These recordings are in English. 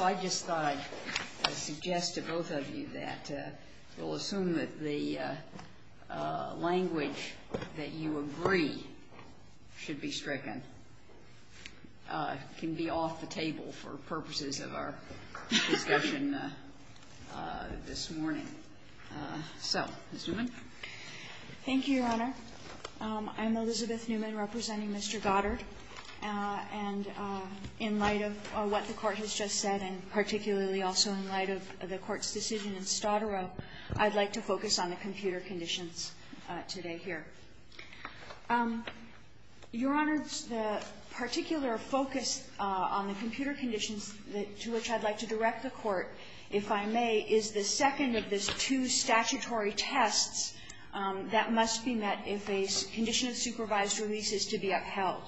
I just thought I'd suggest to both of you that we'll assume that the language that you agree should be stricken can be off the table for purposes of our discussion this morning. Thank you, Your Honor. I'm Elizabeth Newman representing Mr. Goddard, and in light of what the Court has just said, and particularly also in light of the Court's decision in Stottero, I'd like to focus on the computer conditions today here. Your Honor, the particular focus on the computer conditions to which I'd like to direct the Court, if I may, is the second of the two statutory tests that must be met if a condition of supervised release is to be upheld,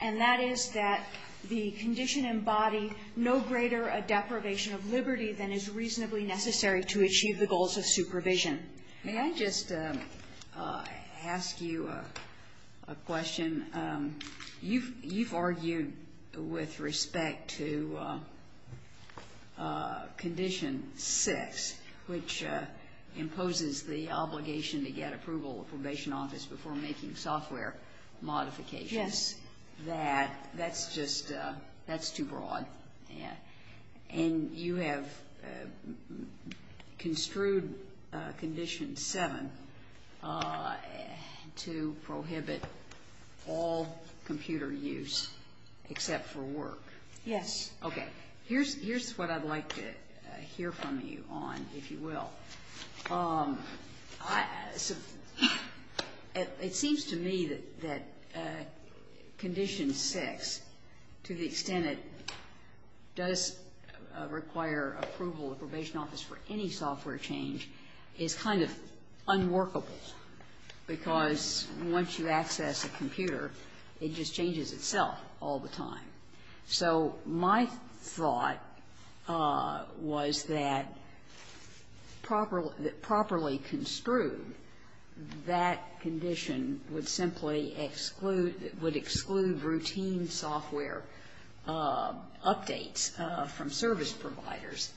and that is that the condition embody no greater a deprivation of liberty than is reasonably necessary to achieve the goals of supervision. May I just ask you a question? You've argued with respect to Condition 6, which imposes the obligation to get approval of probation office before making software modifications. Yes. And that's just too broad. And you have construed Condition 7 to prohibit all computer use except for work. Yes. Okay. Here's what I'd like to hear from you on, if you will. It seems to me that Condition 6, to the extent it does require approval of probation office for any software change, is kind of unworkable, because once you access a computer, it just changes itself all the time. So my thought was that properly construed, that condition would simply exclude routine software updates from service providers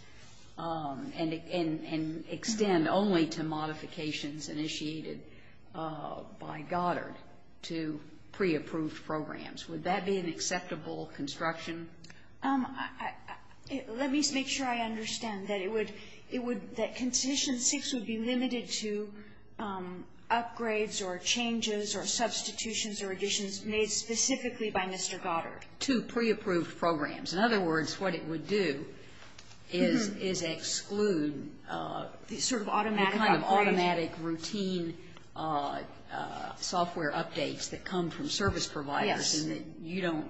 and extend only to modifications initiated by Goddard to preapproved programs. Would that be an acceptable construction? Let me make sure I understand that it would, it would, that Condition 6 would be limited to upgrades or changes or substitutions or additions made specifically by Mr. Goddard. To preapproved programs. In other words, what it would do is, is exclude the kind of automatic routine software updates that come from service providers and that you don't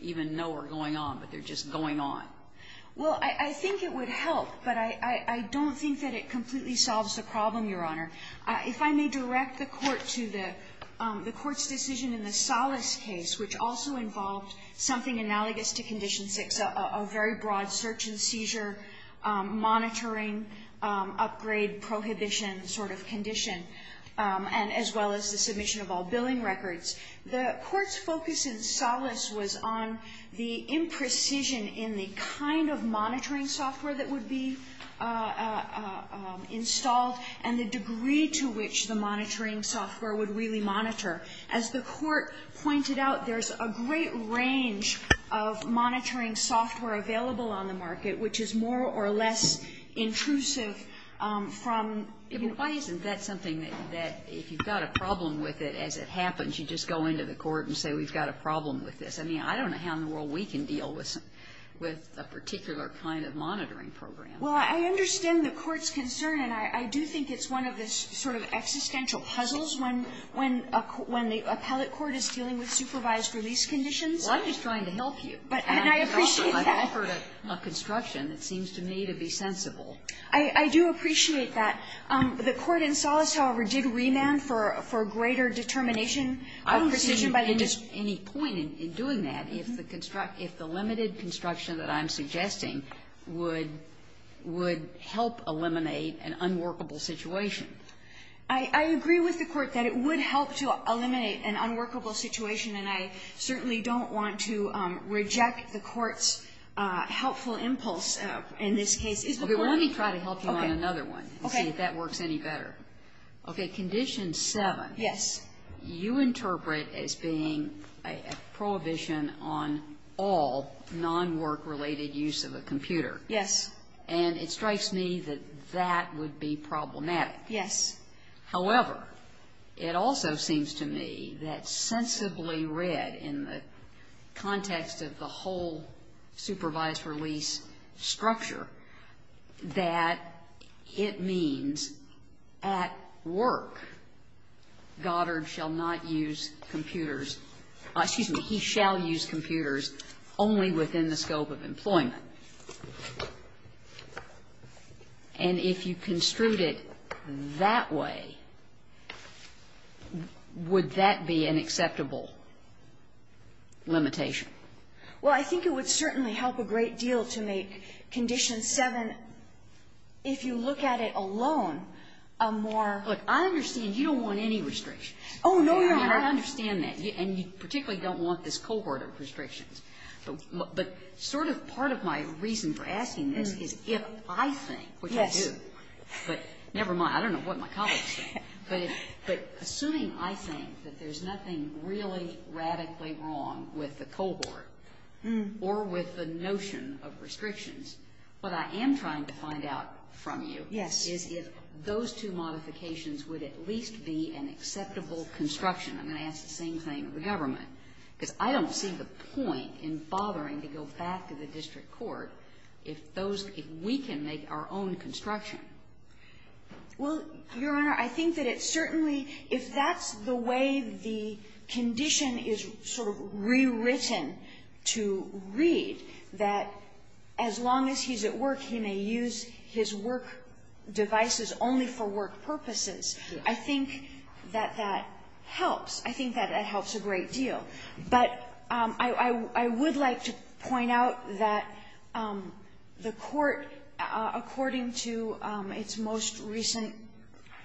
even know are going on, but they're just going on. Well, I think it would help. But I don't think that it completely solves the problem, Your Honor. If I may direct the Court to the Court's decision in the Salas case, which also involved something analogous to Condition 6, a very broad search and seizure monitoring upgrade prohibition sort of condition, and as well as the submission of all billing records. The Court's focus in Salas was on the imprecision in the kind of monitoring software that would be installed and the degree to which the monitoring software would really monitor. As the Court pointed out, there's a great range of monitoring software available on the market, which is more or less intrusive from, you know. Why isn't that something that if you've got a problem with it, as it happens, you just go into the Court and say, we've got a problem with this? I mean, I don't know how in the world we can deal with a particular kind of monitoring program. Well, I understand the Court's concern, and I do think it's one of the sort of existential puzzles when the appellate court is dealing with supervised release conditions. Well, I'm just trying to help you. And I appreciate that. I've offered a construction that seems to me to be sensible. I do appreciate that. The Court in Salas, however, did remand for greater determination of precision by the district. And I don't see any point in doing that if the limited construction that I'm suggesting would help eliminate an unworkable situation. I agree with the Court that it would help to eliminate an unworkable situation. And I certainly don't want to reject the Court's helpful impulse in this case. Okay. Well, let me try to help you on another one and see if that works any better. Okay. Condition 7. Yes. You interpret as being a prohibition on all non-work-related use of a computer. Yes. And it strikes me that that would be problematic. Yes. However, it also seems to me that sensibly read in the context of the whole supervised release structure, that it means at work, Goddard shall not use computers — excuse me, he shall use computers only within the scope of employment. And if you construed it that way, would that be an acceptable limitation? Well, I think it would certainly help a great deal to make Condition 7, if you look at it alone, a more — Look, I understand you don't want any restrictions. Oh, no, Your Honor. I understand that. And you particularly don't want this cohort of restrictions. But sort of part of my reason for asking this is if I think, which I do, but never mind. I don't know what my colleagues think. But assuming I think that there's nothing really radically wrong with the cohort or with the notion of restrictions, what I am trying to find out from you is if those two modifications would at least be an acceptable construction. I'm going to ask the same thing of the government, because I don't see the point in bothering to go back to the district court if those — if we can make our own construction. Well, Your Honor, I think that it certainly — if that's the way the condition is sort of rewritten to read, that as long as he's at work, he may use his work devices only for work purposes. I think that that helps. I think that that helps a great deal. But I would like to point out that the court, according to its most recent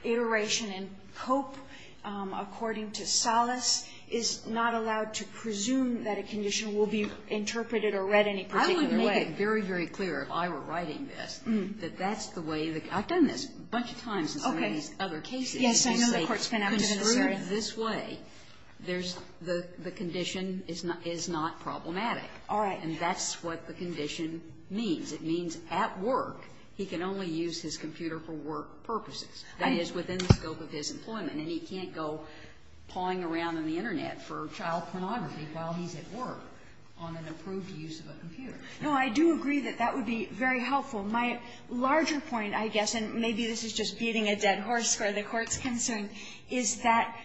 iteration in Cope, according to Salas, is not allowed to presume that a condition will be interpreted or read any particular way. And let me make it very, very clear, if I were writing this, that that's the way the — I've done this a bunch of times in some of these other cases, and they say, construed this way, there's — the condition is not problematic. All right. And that's what the condition means. It means at work, he can only use his computer for work purposes. That is within the scope of his employment, and he can't go pawing around on the Internet for child pornography while he's at work on an approved use of a computer. No, I do agree that that would be very helpful. My larger point, I guess, and maybe this is just beating a dead horse for the Court's concern, is that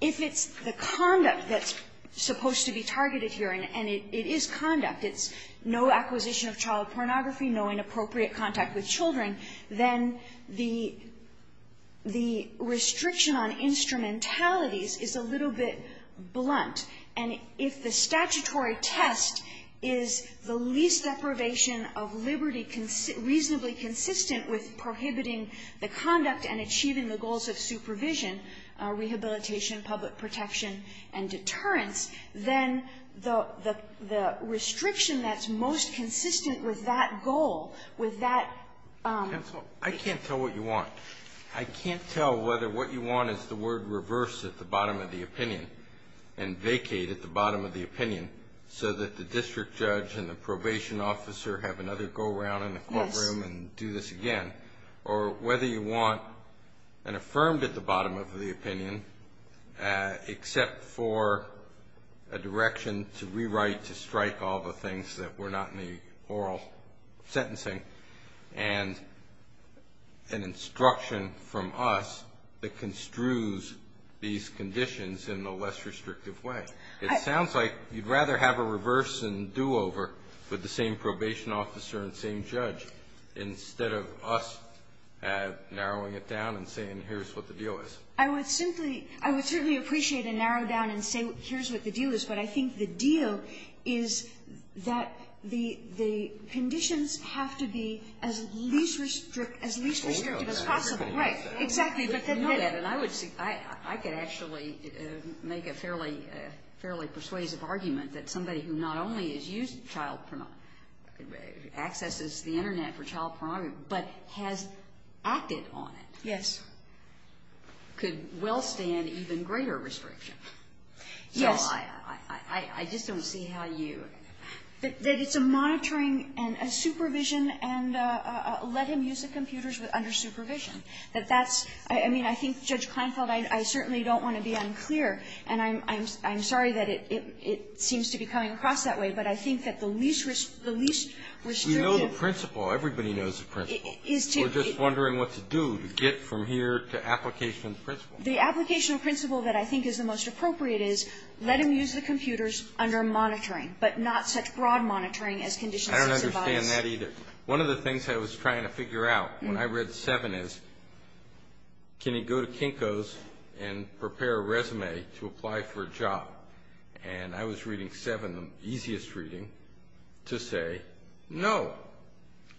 if it's the conduct that's supposed to be targeted here, and it is conduct. It's no acquisition of child pornography, no inappropriate contact with children. Then the — the restriction on instrumentalities is a little bit blunt. And if the statutory test is the least deprivation of liberty, reasonably consistent with prohibiting the conduct and achieving the goals of supervision, rehabilitation, public protection, and deterrence, then the — the restriction that's most consistent with that goal, with that — Counsel, I can't tell what you want. I can't tell whether what you want is the word reverse at the bottom of the opinion. And vacate at the bottom of the opinion, so that the district judge and the probation officer have another go around in the courtroom and do this again. Or whether you want an affirmed at the bottom of the opinion, except for a direction to rewrite, to strike all the things that were not in the oral sentencing. And an instruction from us that construes these conditions in a less restrictive way. It sounds like you'd rather have a reverse and do-over with the same probation officer and same judge, instead of us narrowing it down and saying, here's what the deal is. I would simply — I would certainly appreciate a narrow down and saying, here's what the deal is. But I think the deal is that the — the conditions have to be as least — as least restrictive as possible. Right. Exactly. But then — I would — I could actually make a fairly persuasive argument that somebody who not only has used child — accesses the Internet for child pornography, but has acted on it — Yes. — could well stand even greater restriction. Yes. I just don't see how you — That it's a monitoring and a supervision and a let him use the computers under supervision. That that's — I mean, I think, Judge Kleinfeld, I certainly don't want to be unclear. And I'm sorry that it seems to be coming across that way. But I think that the least — the least restrictive — We know the principle. Everybody knows the principle. The application principle that I think is the most appropriate is let him use the computers under monitoring, but not such broad monitoring as conditions of survival. I don't understand that either. One of the things I was trying to figure out when I read 7 is, can he go to Kinko's and prepare a resume to apply for a job? And I was reading 7, the easiest reading, to say, no,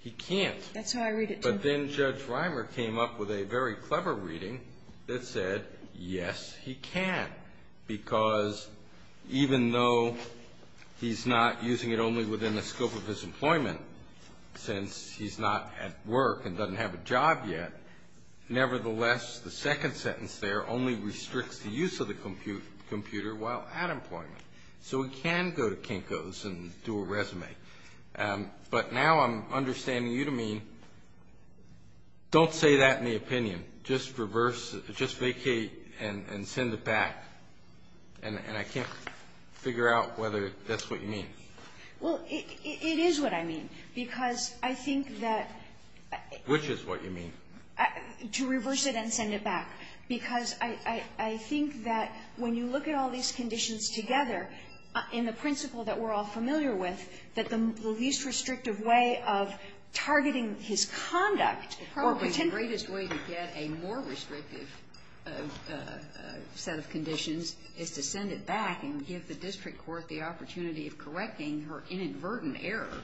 he can't. That's how I read it, too. But then Judge Reimer came up with a very clever reading that said, yes, he can, because even though he's not using it only within the scope of his employment, since he's not at work and doesn't have a job yet, nevertheless, the second sentence there only restricts the use of the computer while at employment. So he can go to Kinko's and do a resume. But now I'm understanding you to mean, don't say that in the opinion. Just reverse — just vacate and send it back. And I can't figure out whether that's what you mean. Well, it is what I mean, because I think that — Which is what you mean? To reverse it and send it back, because I think that when you look at all these conditions together, in the principle that we're all familiar with, that the least restrictive way of targeting his conduct or pretend — Probably the greatest way to get a more restrictive set of conditions is to send it back and give the district court the opportunity of correcting her inadvertent error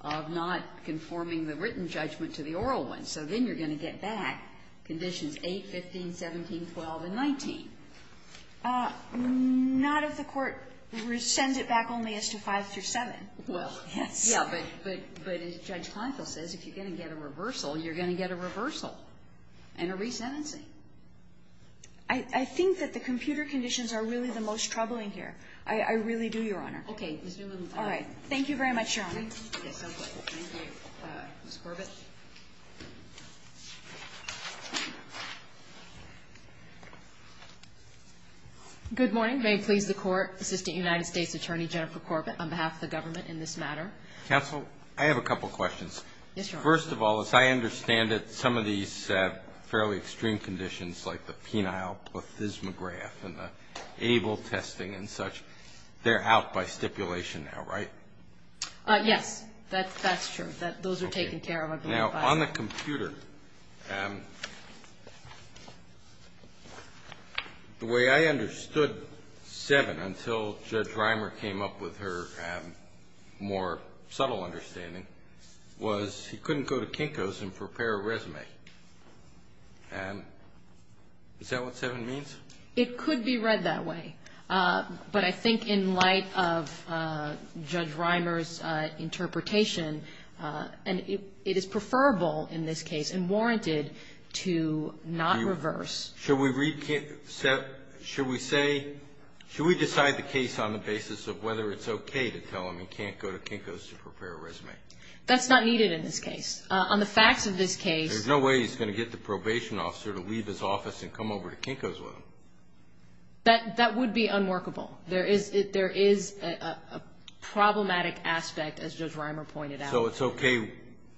of not conforming the written judgment to the oral one. So then you're going to get back conditions 8, 15, 17, 12, and 19. Not if the court sends it back only as to 5 through 7. Well, yeah, but Judge Kleinfeld says if you're going to get a reversal, you're going to get a reversal and a resentencing. I think that the computer conditions are really the most troubling here. I really do, Your Honor. Okay. All right. Thank you very much, Your Honor. Yes, sounds good. Thank you. Ms. Corbett. Good morning. May it please the Court, Assistant United States Attorney Jennifer Corbett, on behalf of the government in this matter. Counsel, I have a couple of questions. Yes, Your Honor. First of all, as I understand it, some of these fairly extreme conditions like the penile plethysmograph and the ABLE testing and such, they're out by stipulation now, right? Yes, that's true. Those are taken care of. Now, on the computer, the way I understood 7 until Judge Reimer came up with her more subtle understanding was he couldn't go to Kinko's and prepare a resume. Is that what 7 means? It could be read that way. But I think in light of Judge Reimer's interpretation, it is preferable in this case and warranted to not reverse. Should we decide the case on the basis of whether it's okay to tell him he can't go to Kinko's to prepare a resume? That's not needed in this case. On the facts of this case — There's no way he's going to get the probation officer to leave his office and come over to Kinko's with him. That would be unworkable. There is a problematic aspect, as Judge Reimer pointed out. So it's okay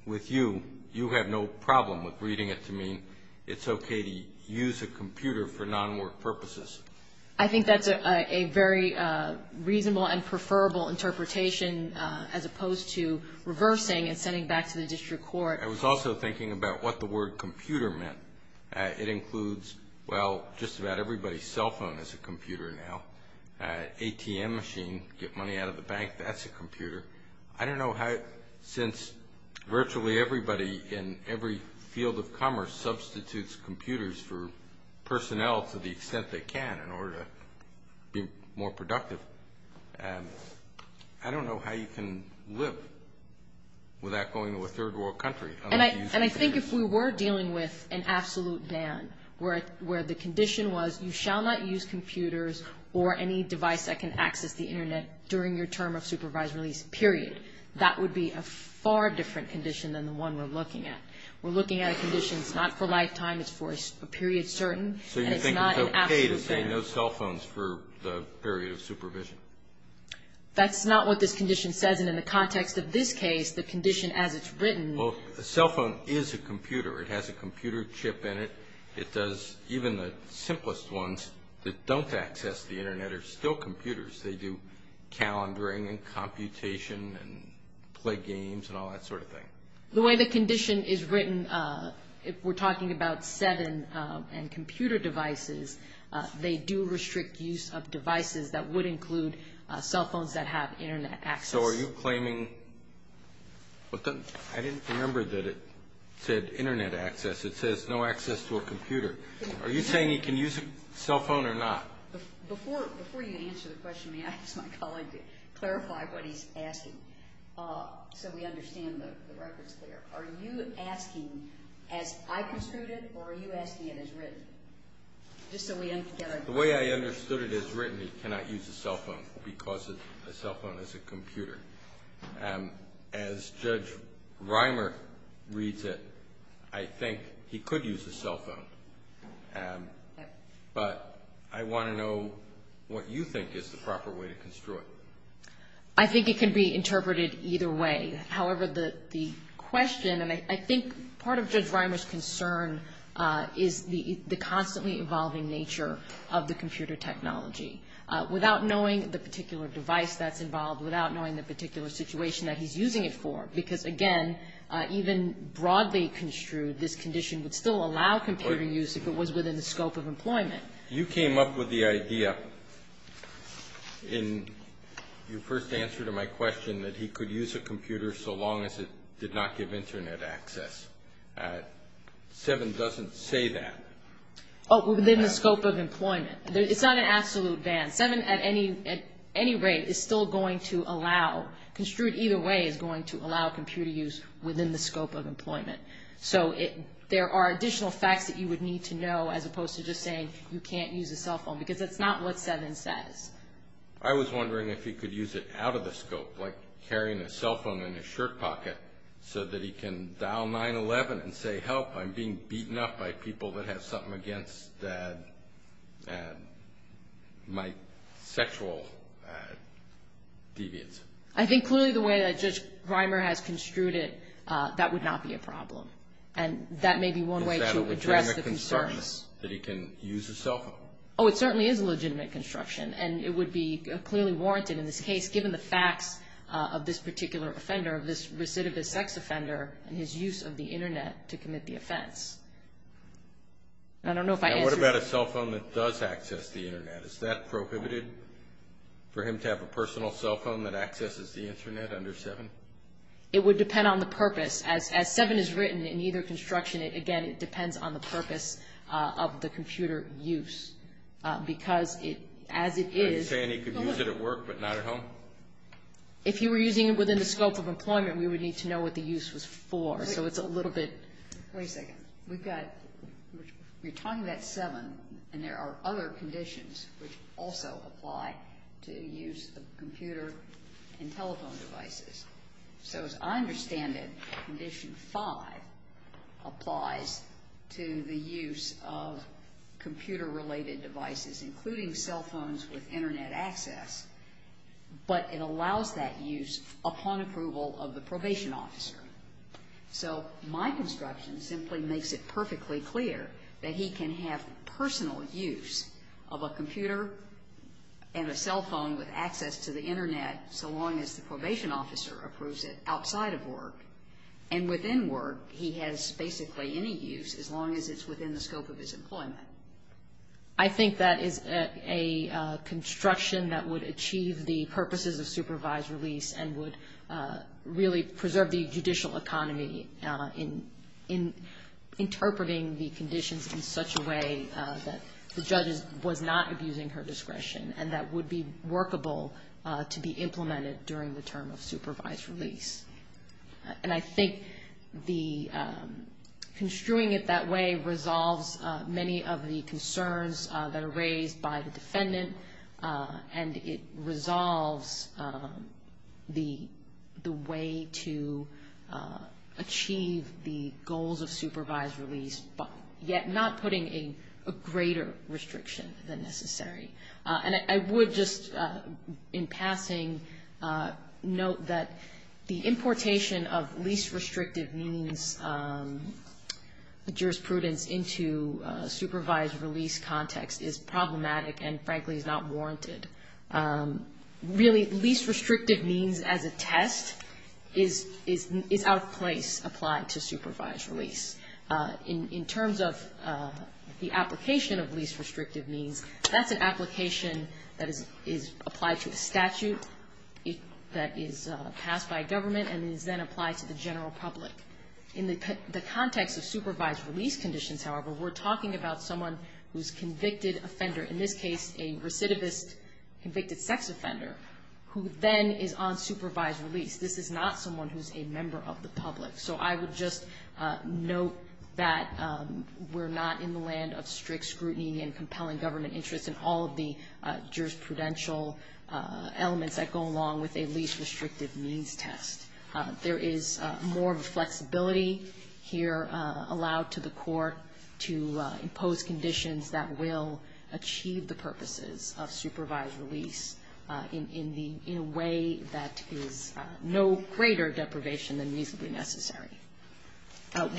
with you. You have no problem with reading it to mean it's okay to use a computer for non-work purposes. I think that's a very reasonable and preferable interpretation as opposed to reversing and sending back to the district court. I was also thinking about what the word computer meant. It includes, well, just about everybody's cell phone is a computer now. ATM machine, get money out of the bank, that's a computer. I don't know how, since virtually everybody in every field of commerce substitutes computers for personnel to the extent they can in order to be more productive, I don't know how you can live without going to a third world country. And I think if we were dealing with an absolute ban, where the condition was you shall not use computers or any device that can access the internet during your term of supervised release, period, that would be a far different condition than the one we're looking at. We're looking at a condition that's not for a lifetime, it's for a period certain. So you think it's okay to say no cell phones for the period of supervision? That's not what this condition says, and in the context of this case, the condition as it's written — Well, a cell phone is a computer. It has a computer chip in it. It does — even the simplest ones that don't access the internet are still computers. They do calendaring and computation and play games and all that sort of thing. The way the condition is written, if we're talking about 7 and computer devices, they do restrict use of devices that would include cell phones that have internet access. So are you claiming — I didn't remember that it said internet access. It says no access to a computer. Are you saying he can use a cell phone or not? Before you answer the question, may I ask my colleague to clarify what he's asking so we understand the record's clear? Are you asking as I construed it, or are you asking it as written? Just so we — The way I understood it as written, he cannot use a cell phone because a cell phone is a computer. As Judge Reimer reads it, I think he could use a cell phone. But I want to know what you think is the proper way to construe it. I think it can be interpreted either way. However, the question — and I think part of Judge Reimer's concern is the constantly evolving nature of the computer technology. Without knowing the particular device that's involved, without knowing the particular situation that he's using it for, because again, even broadly construed, this condition would still allow computer use if it was within the scope of employment. You came up with the idea in your first answer to my question that he could use a computer so long as it did not give internet access. 7 doesn't say that. Oh, within the scope of employment. It's not an absolute ban. 7 at any rate is still going to allow — construed either way is going to allow computer use within the scope of employment. So there are additional facts that you would need to know as opposed to just saying you can't use a cell phone, because that's not what 7 says. I was wondering if he could use it out of the scope, like carrying a cell phone in his shirt pocket so that he can dial 911 and say, this is my sexual deviance. I think clearly the way that Judge Reimer has construed it, that would not be a problem, and that may be one way to address the concerns. Is that a legitimate concern, that he can use his cell phone? Oh, it certainly is a legitimate construction, and it would be clearly warranted in this case, given the facts of this particular offender, of this recidivist sex offender, and his use of the internet to commit the offense. I don't know if I answered — Now, what about a cell phone that does access the internet? Is that prohibited, for him to have a personal cell phone that accesses the internet under 7? It would depend on the purpose. As 7 is written in either construction, again, it depends on the purpose of the computer use, because as it is — Are you saying he could use it at work, but not at home? If he were using it within the scope of employment, we would need to know what the use was for. So it's a little bit — Wait a second. We've got — we're talking about 7, and there are other conditions which also apply to use of computer and telephone devices. So as I understand it, condition 5 applies to the use of computer-related devices, including cell phones with internet access, but it allows that use upon approval of the probation officer. So my construction simply makes it perfectly clear that he can have personal use of a computer and a cell phone with access to the internet so long as the probation officer approves it outside of work. And within work, he has basically any use as long as it's within the scope of his employment. I think that is a construction that would achieve the purposes of supervised release and would really preserve the judicial economy in interpreting the conditions in such a way that the judge was not abusing her discretion and that would be workable to be implemented during the term of supervised release. And I think construing it that way resolves many of the concerns that are raised by the defendant, and it resolves the way to achieve the goals of supervised release, but yet not putting a greater restriction than necessary. And I would just, in passing, note that the importation of least restrictive means jurisprudence into a supervised release context is problematic and, frankly, is not warranted. Really, least restrictive means as a test is out of place applied to supervised release. In terms of the application of least restrictive means, that's an application that is applied to the statute that is passed by government and is then applied to the general public. In the context of supervised release conditions, however, we're talking about someone who's a convicted offender, in this case a recidivist convicted sex offender, who then is on supervised release. This is not someone who's a member of the public. So I would just note that we're not in the land of strict scrutiny and compelling government interest and all of the jurisprudential elements that go along with a least restrictive means test. There is more of a flexibility here allowed to the court to impose conditions that will achieve the purposes of supervised release in a way that is no greater deprivation than reasonably necessary.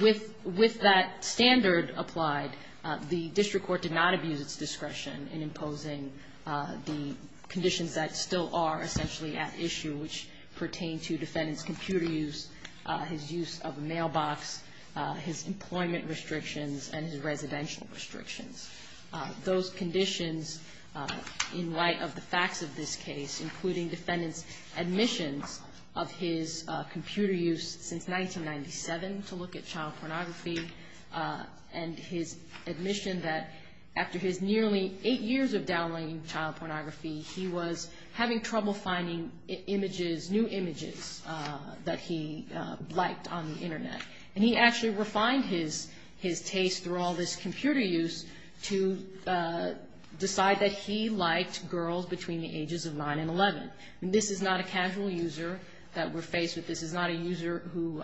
With that standard applied, the district court did not abuse its discretion in imposing the conditions that still are essentially at issue, which pertain to defendant's computer use, his use of a mailbox, his employment restrictions, and his residential restrictions. Those conditions, in light of the facts of this case, including defendant's admissions of his computer use since 1997 to look at child pornography and his admission that after his nearly eight years of downplaying child pornography, he was having trouble finding new images that he liked on the Internet. And he actually refined his taste through all this computer use to decide that he liked girls between the ages of 9 and 11. This is not a casual user that we're faced with. This is not a user who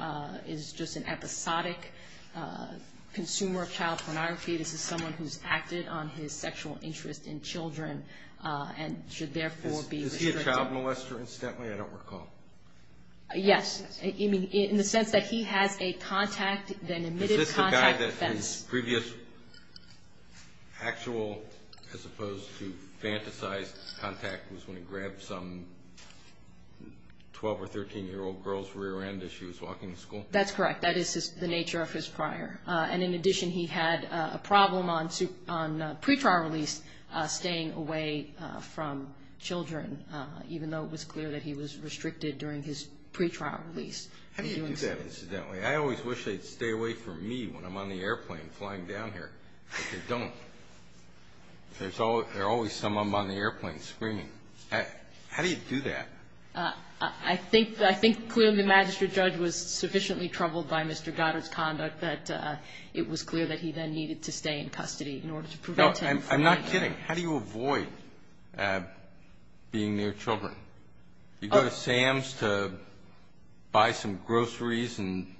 is just an episodic consumer of child pornography. This is someone who's acted on his sexual interest in children and should therefore be restricted. Is he a child molester, incidentally? I don't recall. Yes, in the sense that he has a contact, an admitted contact defense. Is this the guy that his previous actual, as opposed to fantasized contact, was when he grabbed some 12 or 13-year-old girl's rear end as she was walking to school? That's correct. That is the nature of his prior. And in addition, he had a problem on pre-trial release staying away from children, even though it was clear that he was restricted during his pre-trial release. How do you do that, incidentally? I always wish they'd stay away from me when I'm on the airplane flying down here, but they don't. There's always someone on the airplane screaming. How do you do that? I think clearly the magistrate judge was sufficiently troubled by Mr. Goddard's conduct that it was clear that he then needed to stay in custody in order to prevent him from doing that. No, I'm not kidding. How do you avoid being near children? You go to Sam's to buy some groceries and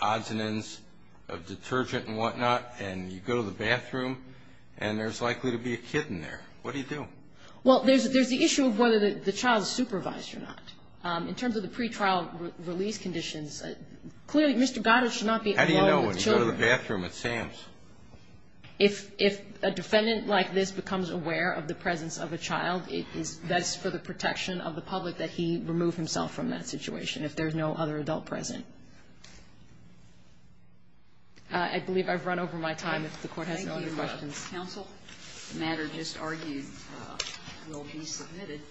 odds and ends of detergent and whatnot, and you go to the bathroom, and there's likely to be a kid in there. What do you do? Well, there's the issue of whether the child is supervised or not. In terms of the pre-trial release conditions, clearly Mr. Goddard should not be alone with children. How do you know when you go to the bathroom at Sam's? If a defendant like this becomes aware of the presence of a child, it is best for the protection of the public that he remove himself from that situation if there's no other adult present. I believe I've run over my time, if the Court has no other questions. Counsel? The matter just argued will be submitted.